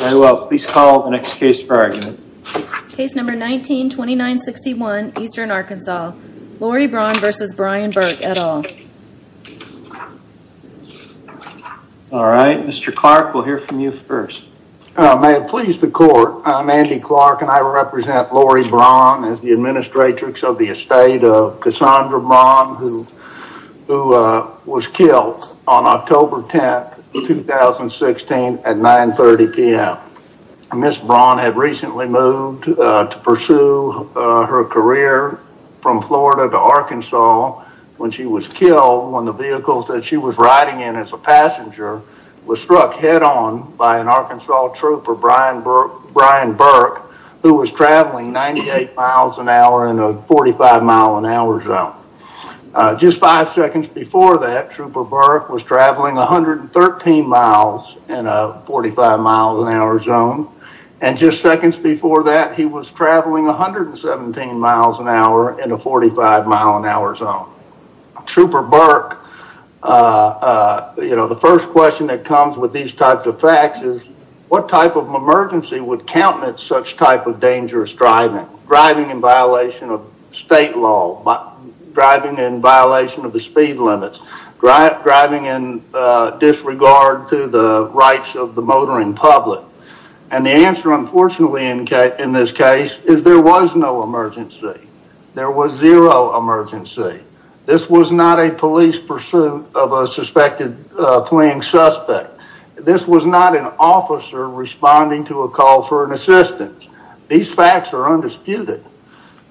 Alright well please call the next case for argument. Case number 19-2961 Eastern Arkansas, Lori Braun v. Brian Burke et al. Alright Mr. Clark we'll hear from you first. May it please the court, I'm Andy Clark and I represent Lori Braun as the Administrator of the estate of Cassandra Braun who was killed on October 10, 2016 at 9.30pm. Ms. Braun had recently moved to pursue her career from Florida to Arkansas when she was killed when the vehicle that she was riding in as a passenger was struck head on by an 45 mile an hour zone. Just five seconds before that Trooper Burke was traveling 113 miles in a 45 mile an hour zone and just seconds before that he was traveling 117 miles an hour in a 45 mile an hour zone. Trooper Burke, you know the first question that comes with these types of facts is what type of emergency would countenance such type of dangerous driving? Driving in violation of state law, driving in violation of the speed limits, driving in disregard to the rights of the motoring public. And the answer unfortunately in this case is there was no emergency. There was zero emergency. This was not a police pursuit of a suspected fleeing suspect. This was not an officer responding to a call for an assistance. These facts are undisputed.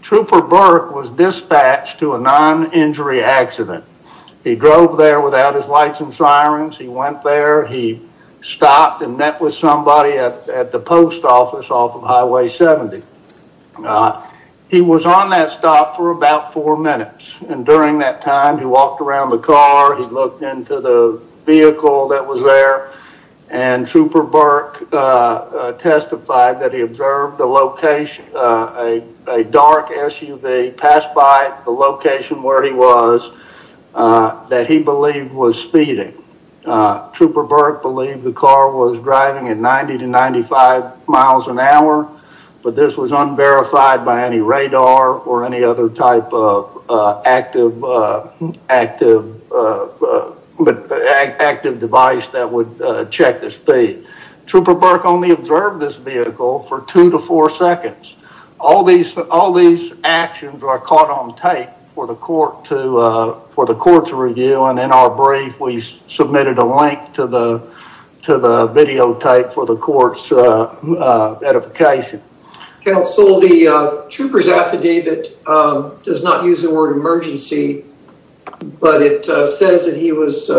Trooper Burke was dispatched to a non-injury accident. He drove there without his lights and sirens. He went there. He stopped and met with somebody at the post office off of Highway 70. He was on that stop for about four minutes and during that time he walked around the He observed a dark SUV pass by the location where he was that he believed was speeding. Trooper Burke believed the car was driving at 90 to 95 miles an hour, but this was unverified by any radar or any other type of active device that would check the speed. Trooper Burke only observed this vehicle for two to four seconds. All these actions are caught on tape for the court to review and in our brief we submitted a link to the videotape for the court's edification. Counsel, the trooper's affidavit does not use the word emergency, but it says that he was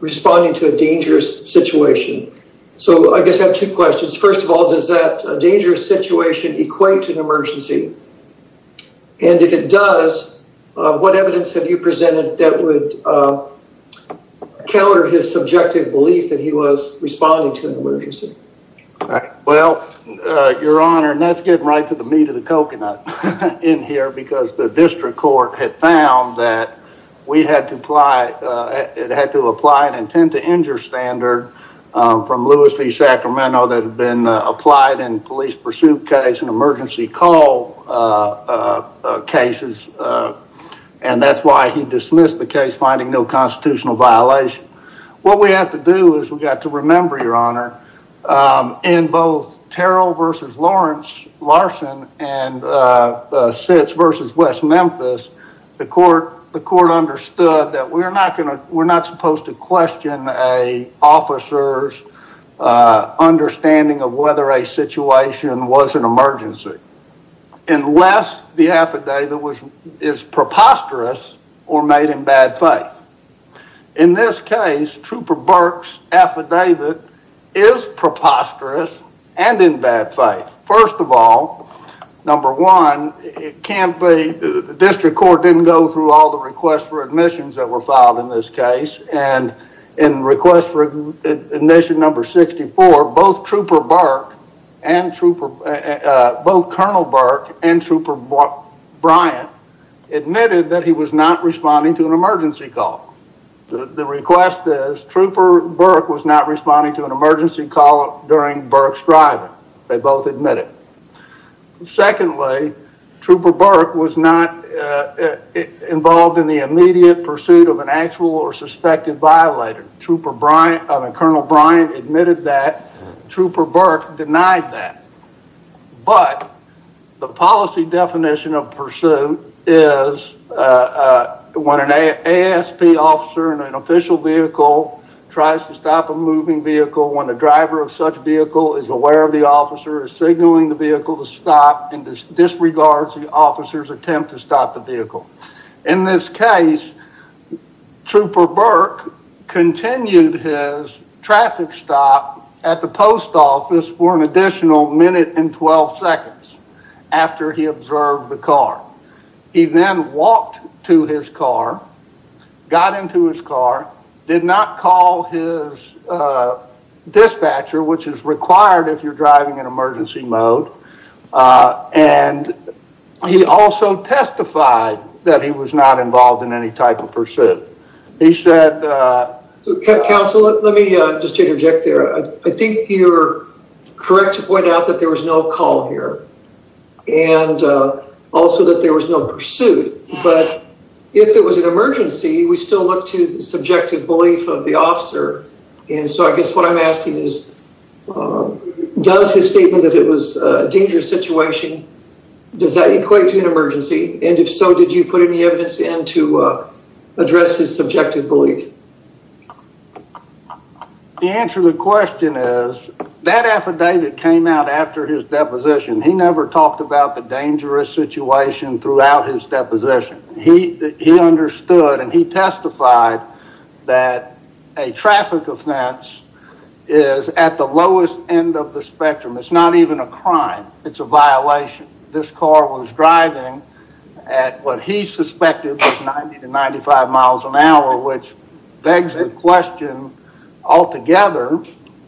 responding to a dangerous situation. So I guess I have two questions. First of all, does that dangerous situation equate to an emergency? And if it does, what evidence have you presented that would counter his subjective belief that he was responding to an emergency? Well, your honor, that's getting right to the meat of the coconut in here because the had to apply an intent to injure standard from Lewis v. Sacramento that had been applied in police pursuit case and emergency call cases, and that's why he dismissed the case finding no constitutional violation. What we have to do is we've got to remember, your honor, in both Terrell versus Larson and Sitz versus West Memphis, the court understood that we're not supposed to question an officer's understanding of whether a situation was an emergency unless the affidavit is preposterous or made in bad faith. In this case, Trooper Burke's affidavit is preposterous and in bad faith. First of all, number one, the district court didn't go through all the requests for admissions that were filed in this case, and in request for admission number 64, both Colonel Burke and Trooper Bryant admitted that he was not responding to an emergency call. The request is Trooper Burke was not responding to an emergency call during Burke's driving. They both admit it. Secondly, Trooper Burke was not involved in the immediate pursuit of an actual or suspected violator. Trooper Bryant and Colonel Bryant admitted that, Trooper Burke denied that, but the policy definition of pursuit is when an ASP officer in an official vehicle tries to stop a moving vehicle when the driver of such vehicle is aware of the officer is signaling the vehicle to stop and disregards the officer's attempt to stop the vehicle. In this case, Trooper Burke continued his traffic stop at the post office for an additional minute and 12 seconds after he observed the car. He then walked to his car, got into his car, did not call his dispatcher, which is required if you're driving in emergency mode, and he also testified that he was not involved in any type of pursuit. He said... Counsel, let me just interject there. I think you're correct to point out that there was no call here and also that there was no pursuit, but if it was an emergency, we still look to the subjective belief of the officer, and so I guess what I'm asking is, does his statement that it was a dangerous situation, does that equate to an emergency, and if so, did you put any evidence in to address his subjective belief? The answer to the question is, that affidavit came out after his deposition. He never talked about the dangerous situation throughout his deposition. He understood and he testified that a traffic offense is at the lowest end of the spectrum. It's not even a crime. It's a violation. This car was driving at what he suspected was 90 to 95 miles an hour, which begs the question altogether,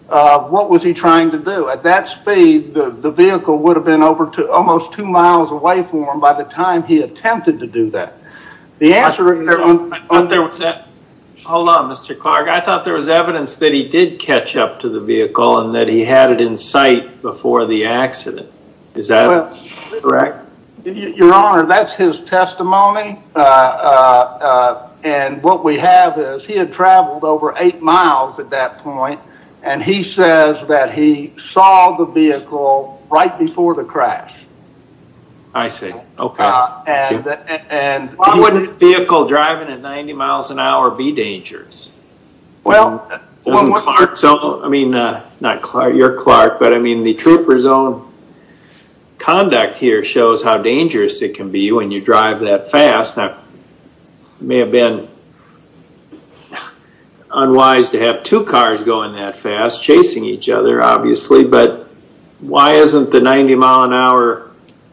what was he trying to do? At that speed, the vehicle would have been almost two miles away from him by the time he attempted to do that. The answer... Hold on, Mr. Clark. I thought there was evidence that he did catch up to the vehicle and that he had it in sight before the accident. Is that correct? Your Honor, that's his testimony. What we have is, he had traveled over eight miles at that point, and he says that he saw the vehicle right before the crash. I see. Okay. Thank you. Why wouldn't a vehicle driving at 90 miles an hour be dangerous? Well... Doesn't Clark... I mean, not Clark, your Clark, but I mean, the trooper's own conduct here shows how dangerous it can be when you drive that fast. Now, it may have been unwise to have two cars going that fast, chasing each other, obviously, but why isn't the 90 mile an hour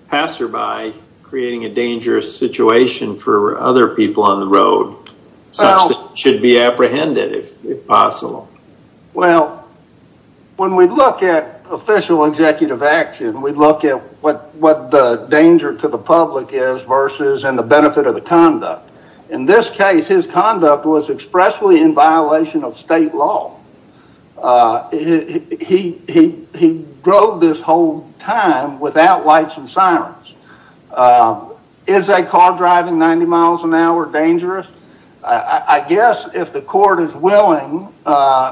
passerby creating a dangerous situation for other people on the road, such that it should be apprehended, if possible? Well, when we look at official executive action, we look at what the danger to the public is versus in the benefit of the conduct. In this case, his conduct was expressly in violation of state law. Is a car driving 90 miles an hour dangerous? I guess, if the court is willing,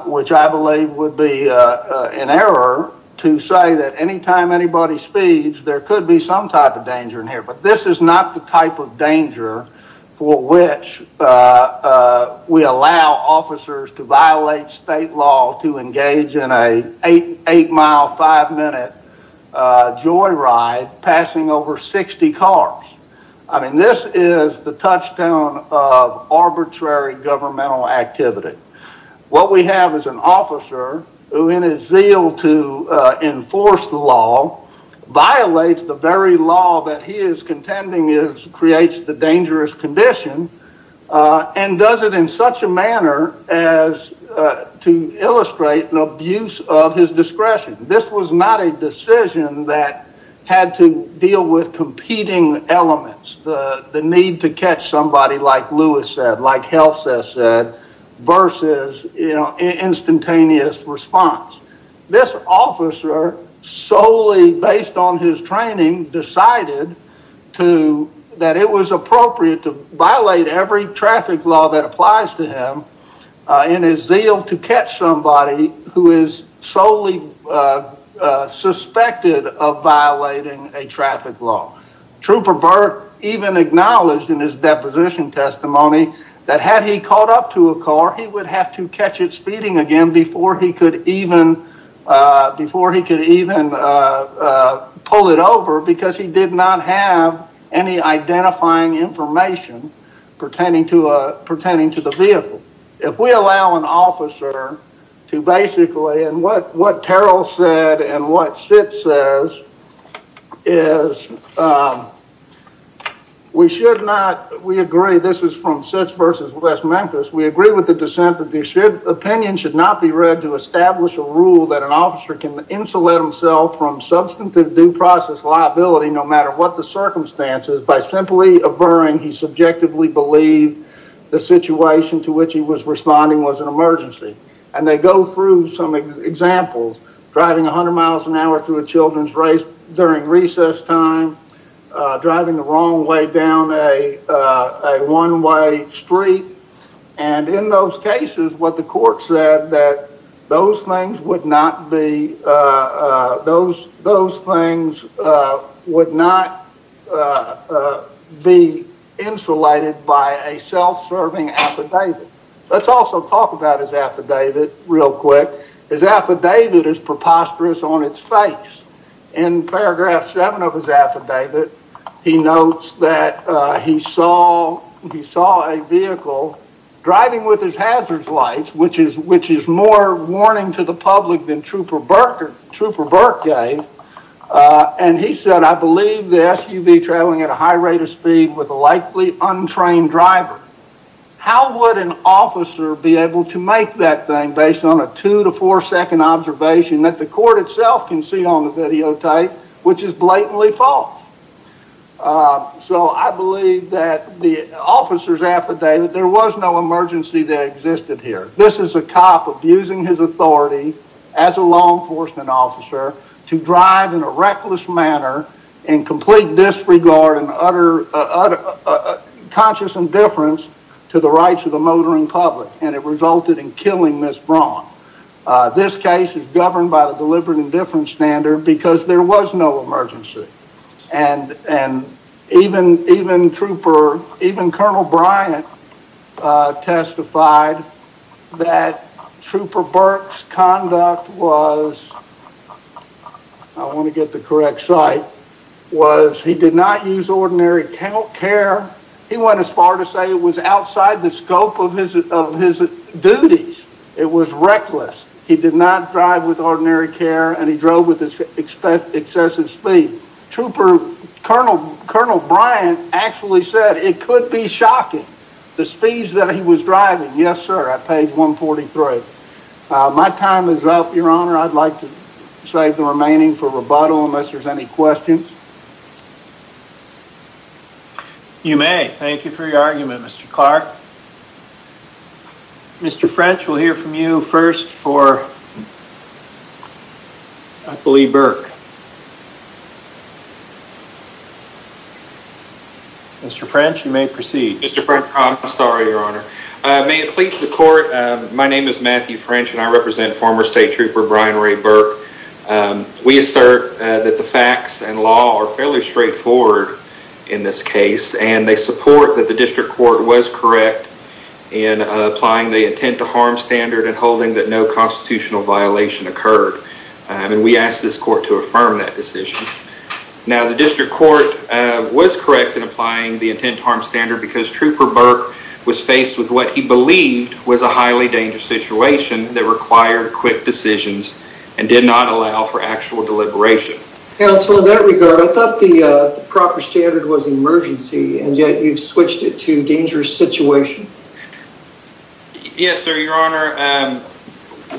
which I believe would be an error, to say that anytime anybody speeds, there could be some type of danger in here, but this is not the type of danger for which we allow officers to violate state law to engage in a eight mile, five speed car. I mean, this is the touchstone of arbitrary governmental activity. What we have is an officer who, in his zeal to enforce the law, violates the very law that he is contending creates the dangerous condition, and does it in such a manner as to illustrate an abuse of his discretion. This was not a decision that had to deal with competing elements, the need to catch somebody like Lewis said, like HealthSeth said, versus instantaneous response. This officer, solely based on his training, decided that it was appropriate to violate every traffic law that applies to him in his zeal to catch somebody who is solely suspected of violating a traffic law. Trooper Burke even acknowledged in his deposition testimony that had he caught up to a car, he would have to catch it speeding again before he could even pull it over, because he did not have any identifying information pertaining to the vehicle. If we allow an officer to basically, and what Terrell said and what Sith says, is we should not, we agree, this is from Sith versus West Memphis, we agree with the dissent that opinions should not be read to establish a rule that an officer can insulate himself from substantive due process liability no matter what the circumstances by simply averring he subjectively believed the situation to which he was responding was an emergency. And they go through some examples, driving 100 miles an hour through a children's race during recess time, driving the wrong way down a one-way street, and in those cases what the court said that those things would not be, those things would not be insulated by a self-serving affidavit. Let's also talk about his affidavit real quick. His affidavit is preposterous on its face. In paragraph seven of his affidavit, he notes that he saw a vehicle driving with his hazards lights, which is more warning to the public than Trooper Burke gave, and he said, I believe the SUV traveling at a high rate of speed with a likely untrained driver. How would an officer be able to make that thing based on a two to four second observation that the court itself can see on the videotape, which is blatantly false? So I believe that the officer's affidavit, there was no emergency that existed here. This is a cop abusing his authority as a law enforcement officer to drive in a reckless manner and complete disregard and conscious indifference to the rights of the motoring public, and it resulted in killing Ms. Braun. This case is governed by the deliberate indifference standard because there was no emergency. And even Colonel Bryant testified that Trooper Burke's conduct was, I want to get the correct site, was he did not use ordinary care. He went as far to say it was outside the scope of his duties. It was reckless. He did not drive with ordinary care and he drove with excessive speed. Trooper, Colonel Bryant actually said it could be shocking, the speeds that he was driving. Yes, sir, at page 143. My time is up, your honor. I'd like to save the remaining for rebuttal unless there's any questions. You may. Thank you for your argument, Mr. Clark. Mr. French, we'll hear from you first for, I believe, Burke. Mr. French, you may proceed. Mr. French, I'm sorry, your honor. May it please the court, my name is Matthew French and I represent former State Trooper Brian Ray Burke. We assert that the facts and law are fairly straightforward in this case and they support that the district court was correct in applying the intent to harm standard and holding that no constitutional violation occurred. And we ask this court to affirm that decision. Now the district court was correct in applying the intent to harm standard because Trooper Burke was faced with what he believed was a highly dangerous situation that required quick decisions and did not allow for actual deliberation. Counsel, in that regard, I thought the proper standard was emergency and yet you've switched it to dangerous situation. Yes, sir, your honor.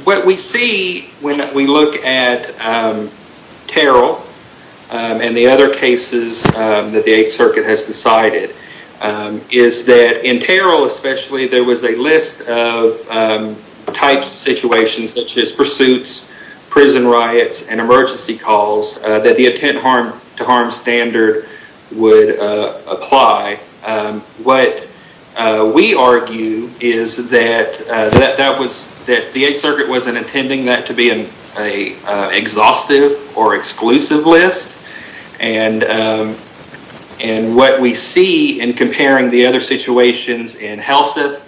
What we see when we look at Terrell and the other cases that the Eighth Circuit has decided is that in Terrell, especially, there was a list of types of situations such as pursuits, prison riots, and emergency calls that the intent to harm standard would apply. What we argue is that the Eighth Circuit wasn't intending that to be an exhaustive or exclusive list and what we see in comparing the other situations in that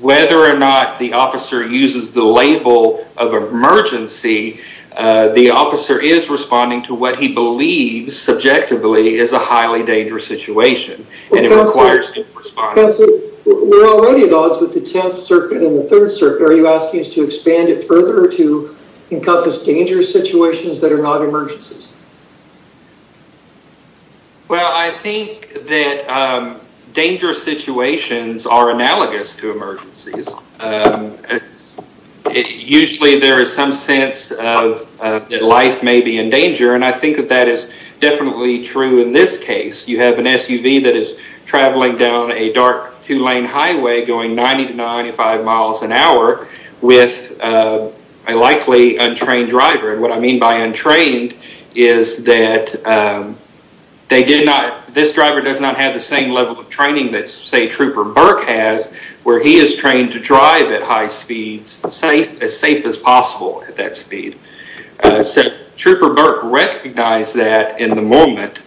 whether or not the officer uses the label of emergency, the officer is responding to what he believes subjectively is a highly dangerous situation. And it requires him to respond. Counsel, we're already at odds with the Tenth Circuit and the Third Circuit. Are you asking us to expand it further or to encompass dangerous situations that are not emergencies? Well, I think that dangerous situations are analogous to emergencies. Usually, there is some sense that life may be in danger and I think that that is definitely true in this case. You have an SUV that is traveling down a dark two-lane highway going 90 to 95 miles an hour with a likely untrained driver. What I mean by untrained is that this driver does not have the same level of training that, say, Trooper Burke has, where he is trained to drive at high speeds as safe as possible at that speed. Trooper Burke recognized that in the moment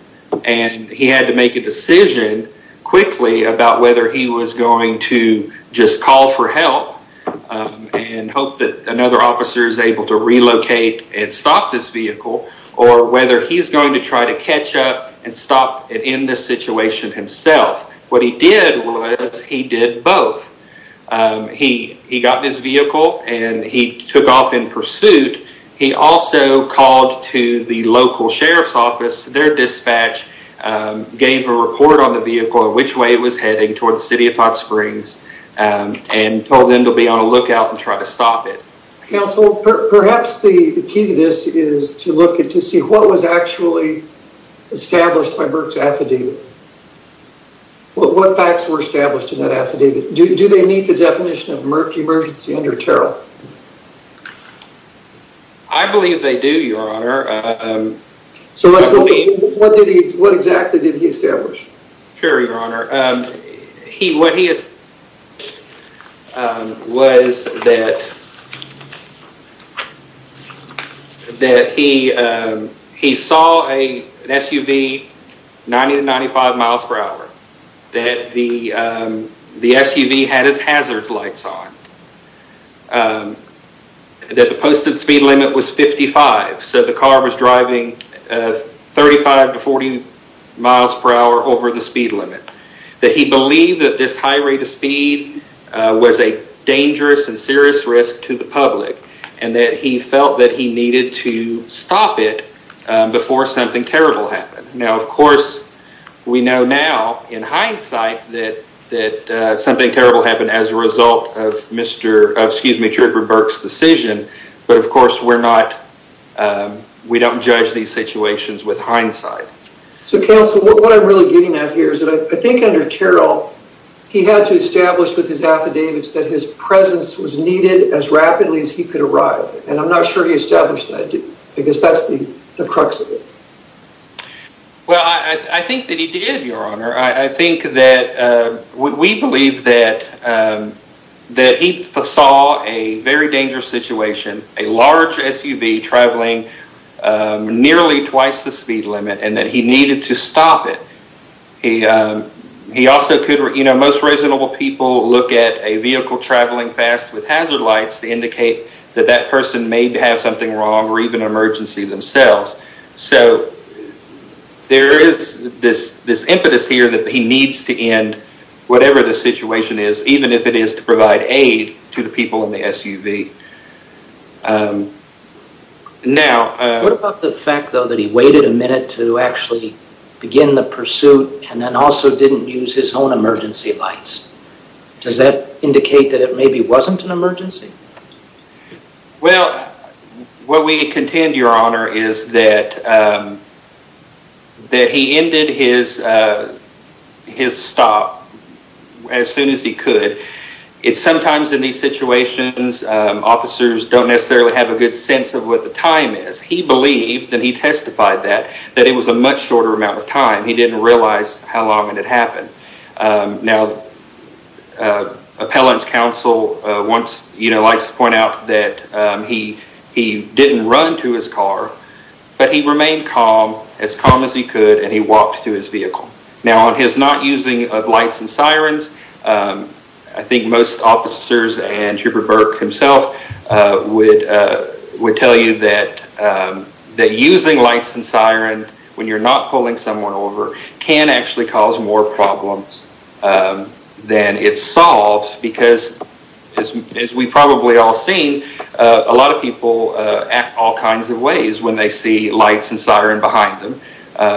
and he had to make a decision quickly about whether he was going to just call for help and hope that another officer is able to relocate and stop this vehicle or whether he's going to try to catch up and stop it in the situation himself. What he did was he did both. He got in his vehicle and he took off in pursuit. He also called to the local sheriff's office. Their dispatch gave a report on the vehicle and which way it was heading towards the City of Potts Springs and told them to be on the lookout and try to stop it. Counsel, perhaps the key to this is to look and to see what was actually established by Burke's affidavit. What facts were established in that affidavit? Do they meet the definition of emergency under Terrell? I believe they do, Your Honor. So what exactly did he establish? Sure, Your Honor. What he established was that he saw an SUV 90 to 95 miles per hour, that the SUV had its hazards lights on, that the posted speed limit was 55, so the car was driving 35 to 40 miles per hour over the speed limit. That he believed that this high rate of speed was a dangerous and serious risk to the public and that he felt that he needed to stop it before something terrible happened. Now, of course, we know now in hindsight that something terrible happened as a result of Mr. Burke's decision, but of course we don't judge these situations with hindsight. So, Counsel, what I'm really getting at here is that I think under Terrell, he had to establish with his affidavits that his presence was needed as rapidly as he could arrive, and I'm not sure he established that, because that's the crux of it. Well, I think that he did, Your Honor. I think that we believe that he saw a very dangerous situation, a large SUV traveling nearly twice the speed limit, and that he needed to stop it. He also could, you know, most reasonable people look at a vehicle traveling fast with hazard lights to indicate that that person may have something wrong or even an emergency themselves. So, there is this impetus here that he needs to end whatever the situation is, even if it is to provide aid to the people in the SUV. What about the fact, though, that he waited a minute to actually begin the pursuit and then also didn't use his own emergency lights? Does that indicate that it maybe wasn't an emergency? Well, what we contend, Your Honor, is that he ended his stop as soon as he could. Sometimes in these situations, officers don't necessarily have a good sense of what the time is. He believed, and he testified that, that it was a much shorter amount of time. He didn't realize how long it had happened. Now, appellant's counsel likes to point out that he didn't run to his car, but he remained calm, as calm as he could, and he walked to his vehicle. Now, on his not using of lights and sirens, I think most officers and Trooper Burke himself would tell you that using lights and sirens when you're not pulling someone over can actually cause more problems than it solves because, as we've probably all seen, a lot of people act all kinds of ways when they see lights and sirens behind them.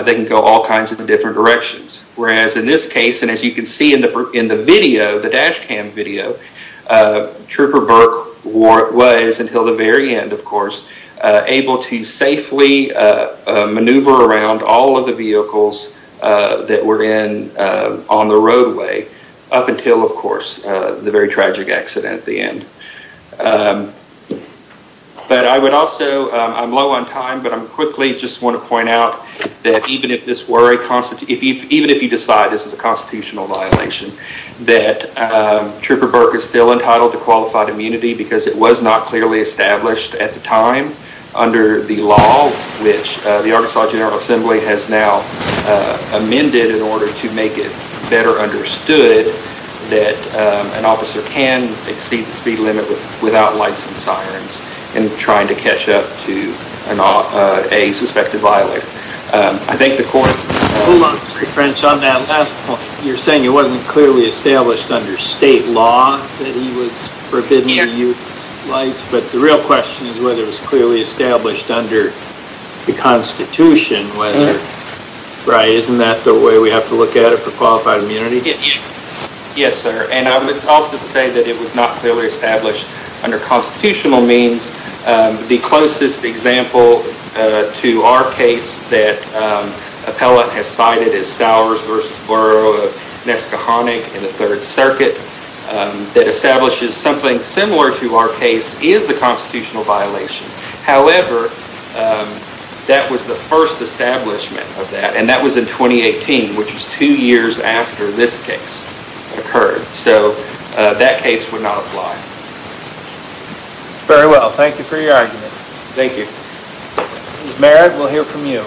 They can go all kinds of different directions, whereas in this case, and as you can see in the video, the dash cam video, Trooper Burke was, until the very end, of course, able to safely maneuver around all of the vehicles that were on the roadway up until, of course, the accident. But I would also, I'm low on time, but I quickly just want to point out that even if this were a constitutional, even if you decide this is a constitutional violation, that Trooper Burke is still entitled to qualified immunity because it was not clearly established at the time under the law, which the Arkansas General Assembly has now amended in order to make it better understood that an officer can exceed the speed limit without lights and sirens in trying to catch up to a suspected violator. I think the court... Hold on, Mr. French. On that last point, you're saying it wasn't clearly established under state law that he was forbidden to use lights, but the real question is whether it was clearly established under the Constitution, right? Isn't that the way we have to look at it for qualified immunity? Yes, sir. And I would also say that it was not clearly established under constitutional means. The closest example to our case that Appellate has cited is Sowers v. Borough of Neskahonic in the Third Circuit that establishes something similar to our case is a constitutional violation. However, that was the first establishment of that, and that was in 2018, which was two years after this case occurred. So that case would not apply. Very well. Thank you for your argument. Thank you. Merritt, we'll hear from you.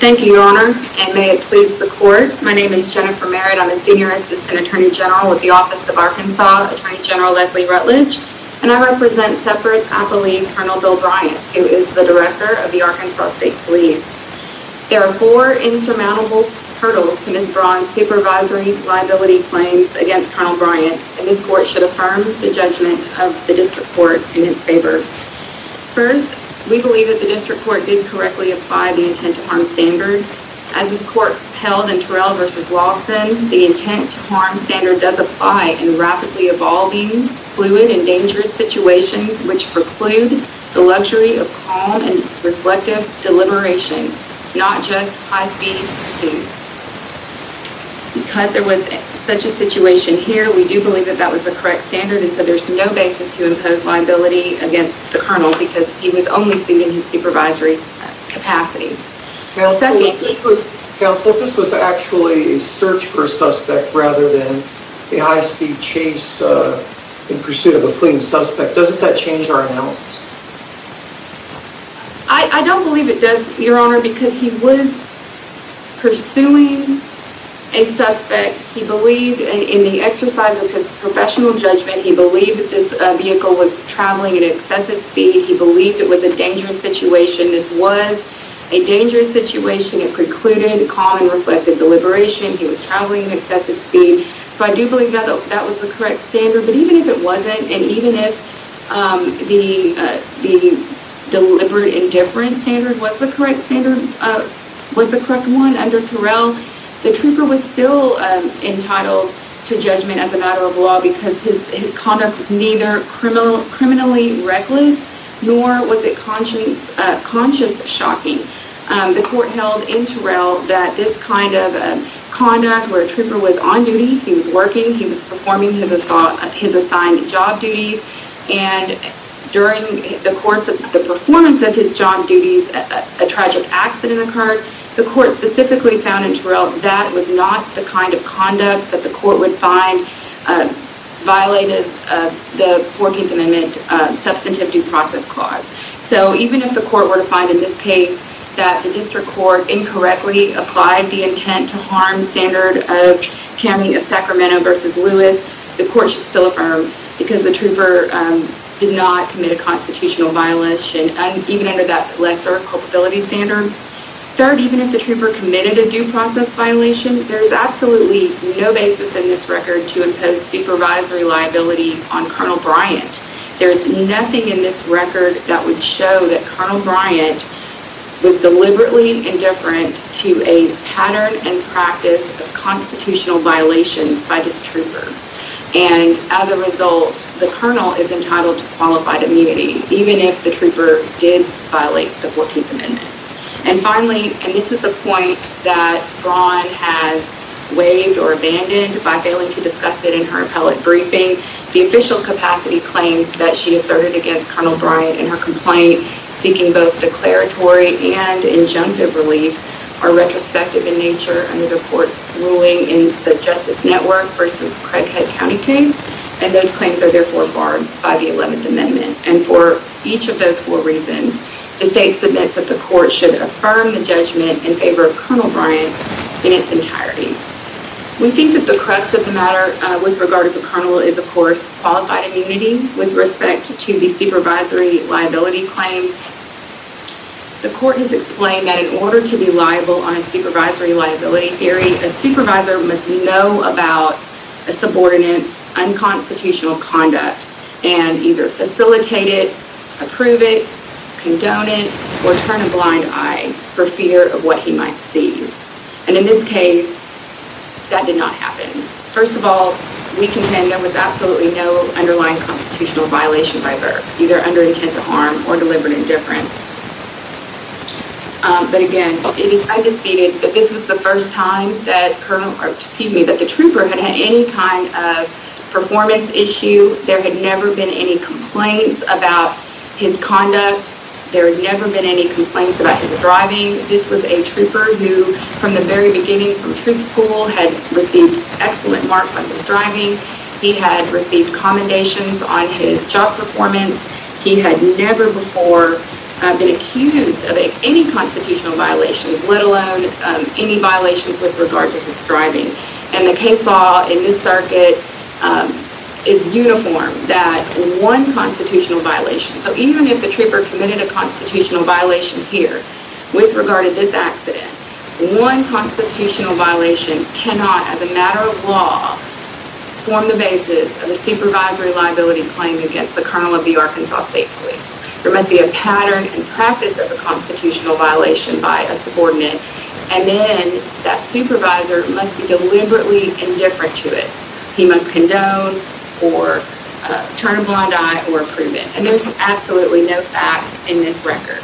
Thank you, Your Honor, and may it please the court. My name is Jennifer Merritt. I'm a Senior Assistant Attorney General with the Office of Arkansas Attorney General Leslie Rutledge, and I represent Separate Appellee Colonel Bill Bryant, who is the Director of the Arkansas State Police. There are four insurmountable hurdles to Ms. Braun's supervisory liability claims against Colonel Bryant, and this court should affirm the judgment of the district court in his favor. First, we believe that the district court did correctly apply the intent to harm standard. As this court held in Terrell v. Lawson, the intent to harm standard does apply in rapidly evolving, fluid, and dangerous situations which preclude the luxury of calm and reflective deliberation, not just high speed pursuits. Because there was such a situation here, we do believe that that was the correct standard, and so there's no basis to impose liability against the Colonel because he was only sued in his supervisory capacity. Second, Counsel, if this was actually a search for a suspect rather than a high speed chase in pursuit of a clean suspect, doesn't that change our analysis? I don't believe it does, Your Honor, because he was pursuing a suspect. He believed in the exercise of his professional judgment. He believed that this vehicle was traveling at excessive speed. He believed it was a dangerous situation. This was a dangerous situation. It precluded calm and reflective deliberation. He was traveling at excessive speed. So I do believe that that was the correct standard. But even if it wasn't, and even if the deliberate indifference standard was the correct one under Terrell, the trooper was still entitled to judgment as a matter of law because his conduct was not the kind of conduct that the court would find violated the 14th Amendment Substantive Due Process Clause. So even if the court were to find in this case that the district court incorrectly applied the intent to harm standard of Cameron of Sacramento versus Lewis, the court should still affirm because the trooper did not commit a constitutional violation even under that lesser culpability standard. Third, even if the trooper committed a due process violation, there is absolutely no basis in this record to impose supervisory liability on Colonel Bryant. There's nothing in this record that would show that Colonel Bryant was deliberately indifferent to a pattern and practice of constitutional violations by this trooper. And as a result, the colonel is entitled to qualified immunity, even if the trooper did violate the 14th Amendment. And finally, and this is the point that Braun has waived or abandoned by failing to discuss it in her appellate briefing, the official capacity claims that she asserted against Colonel Bryant and her complaint seeking both declaratory and injunctive relief are retrospective in nature under the court's ruling in the Justice Network versus Craighead County case. And those claims are therefore barred by the 11th Amendment. And for each of those four reasons, the state submits that the court should affirm the judgment in favor of Colonel Bryant in its entirety. We think that the crux of the matter with regard to the colonel is, of course, qualified immunity with respect to the supervisory liability claims. The court has explained that in order to be liable on a supervisory liability theory, a supervisor must know about a subordinate's unconstitutional conduct and either facilitate it, approve it, condone it, or turn a blind eye for fear of what he might see. And in this case, that did not happen. First of all, we contend there was absolutely no underlying constitutional violation by Burke, either under intent to harm or deliberate indifference. But again, I defeated that this was the first time that the trooper had had any kind of performance issue. There had never been any complaints about his conduct. There had never been any complaints about his driving. This was a trooper who, from the very beginning from troop school, had received excellent marks on his driving. He had received commendations on his job performance. He had never before been accused of any constitutional violations, let alone any violations with regard to his driving. And the case law in this circuit is uniform, that one constitutional violation. So even if the trooper committed a constitutional violation here with regard to this accident, one constitutional violation cannot, as a matter of law, form the basis of a supervisory liability claim against the colonel of the Arkansas State Police. There must be a pattern and practice of a constitutional violation by a subordinate, and then that supervisor must be deliberately indifferent to it. He must condone or turn a blind eye or approve it. And there's absolutely no facts in this record.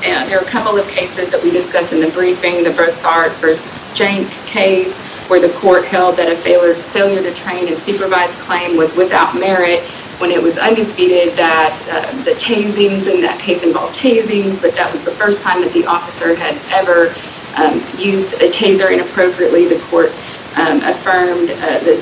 There are a couple of cases that we discussed in the briefing, the Brossard v. Jank case, where the court held that a failure to train and supervise claim was without merit when it was undisputed that the tasings in that case involved tasings, but that was the first time that the officer had ever used a taser inappropriately. The court affirmed the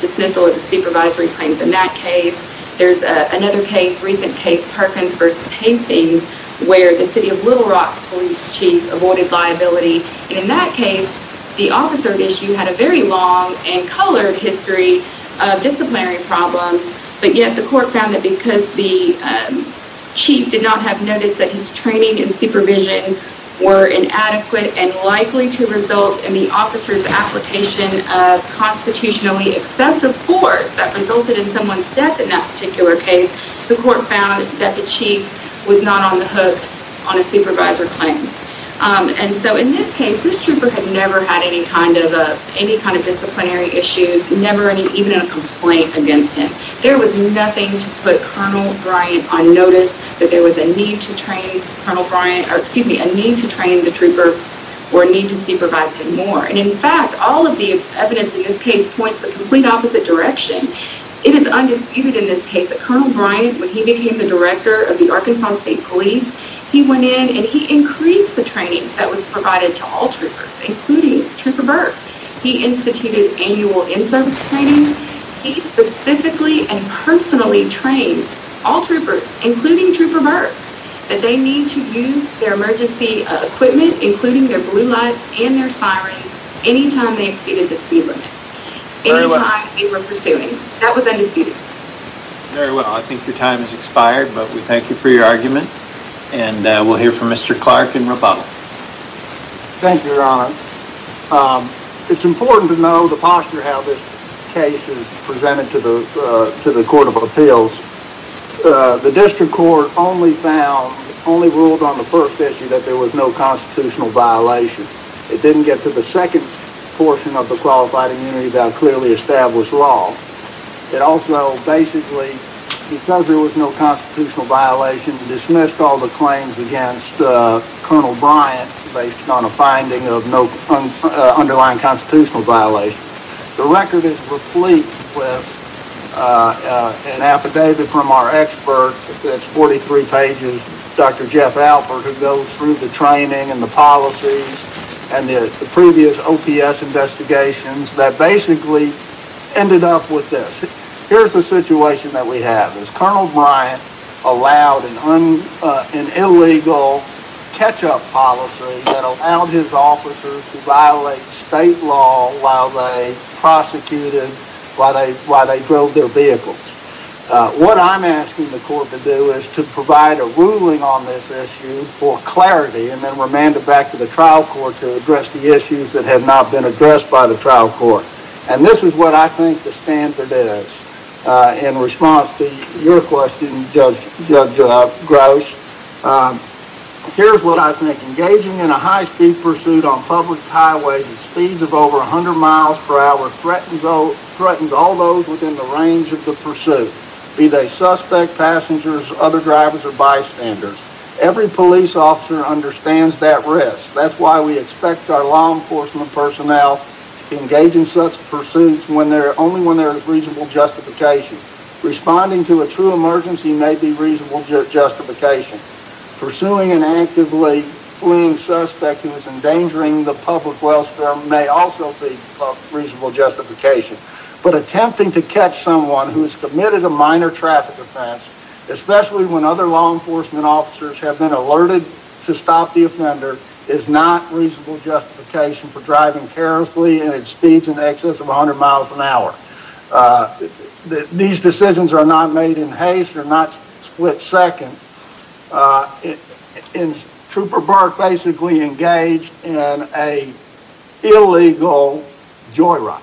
dismissal of the supervisory claims in that case. There's another case, recent case, Perkins v. Hastings, where the city of Little Rock's police chief avoided liability, and in that case, the officer at issue had a very long and colored history of disciplinary problems, but yet the court found that because the chief did not have notice that his training and supervision were inadequate and likely to result in the officer's application of constitutionally excessive force that resulted in someone's dismissal in that particular case, the court found that the chief was not on the hook on a supervisor claim. And so in this case, this trooper had never had any kind of disciplinary issues, never even a complaint against him. There was nothing to put Colonel Bryant on notice that there was a need to train Colonel Bryant, or excuse me, a need to train the trooper or a need to supervise him more. And in fact, all of the evidence in this case points the complete opposite direction. It is undisputed in this case that Colonel Bryant, when he became the director of the Arkansas State Police, he went in and he increased the training that was provided to all troopers, including Trooper Burke. He instituted annual in-service training. He specifically and personally trained all troopers, including Trooper Burke, that they need to use their emergency equipment, including their blue lights and their sirens, anytime they exceeded the speed limit. Anytime they were pursuing. That was undisputed. Very well. I think your time has expired, but we thank you for your argument. And we'll hear from Mr. Clark and Roboto. Thank you, Your Honor. It's important to know the posture how this case is presented to the Court of Appeals. The district court only found, only ruled on the first issue that there was no constitutional violation. It didn't get to the second portion of the qualified immunity that clearly established law. It also basically, because there was no constitutional violation, dismissed all the claims against Colonel Bryant based on a finding of no underlying constitutional violation. The record is replete with an affidavit from our expert that's 43 pages. Dr. Jeff Alford, who goes through the training and the policies and the previous OPS investigations that basically ended up with this. Here's the situation that we have is Colonel Bryant allowed an illegal catch-up policy that allowed his officers to violate state law while they prosecuted, while they drove their vehicles. What I'm asking the court to do is to provide a ruling on this issue for clarity and then remand it back to the trial court to address the issues that have not been addressed by the trial court. And this is what I think the standard is. In response to your question, Judge Gross, here's what I think. Engaging in a high-speed pursuit on public highways at speeds of over 100 miles per hour threatens all those within the range of the pursuit, be they suspect, passengers, other drivers, or bystanders. Every police officer understands that risk. That's why we expect our law enforcement personnel to engage in such pursuits only when there is reasonable justification. Responding to a true emergency may be reasonable justification. Pursuing an actively fleeing suspect who is endangering the public welfare may also be reasonable justification. But attempting to catch someone who has committed a minor traffic offense, especially when other law enforcement officers have been alerted to stop the offender, is not reasonable justification for driving carelessly at speeds in excess of 100 miles per hour. These decisions are not made in haste. They're not split second. And Trooper Burke basically engaged in an illegal joyride.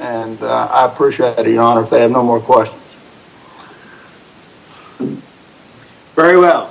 And I appreciate it, Your Honor, if they have no more questions. Very well.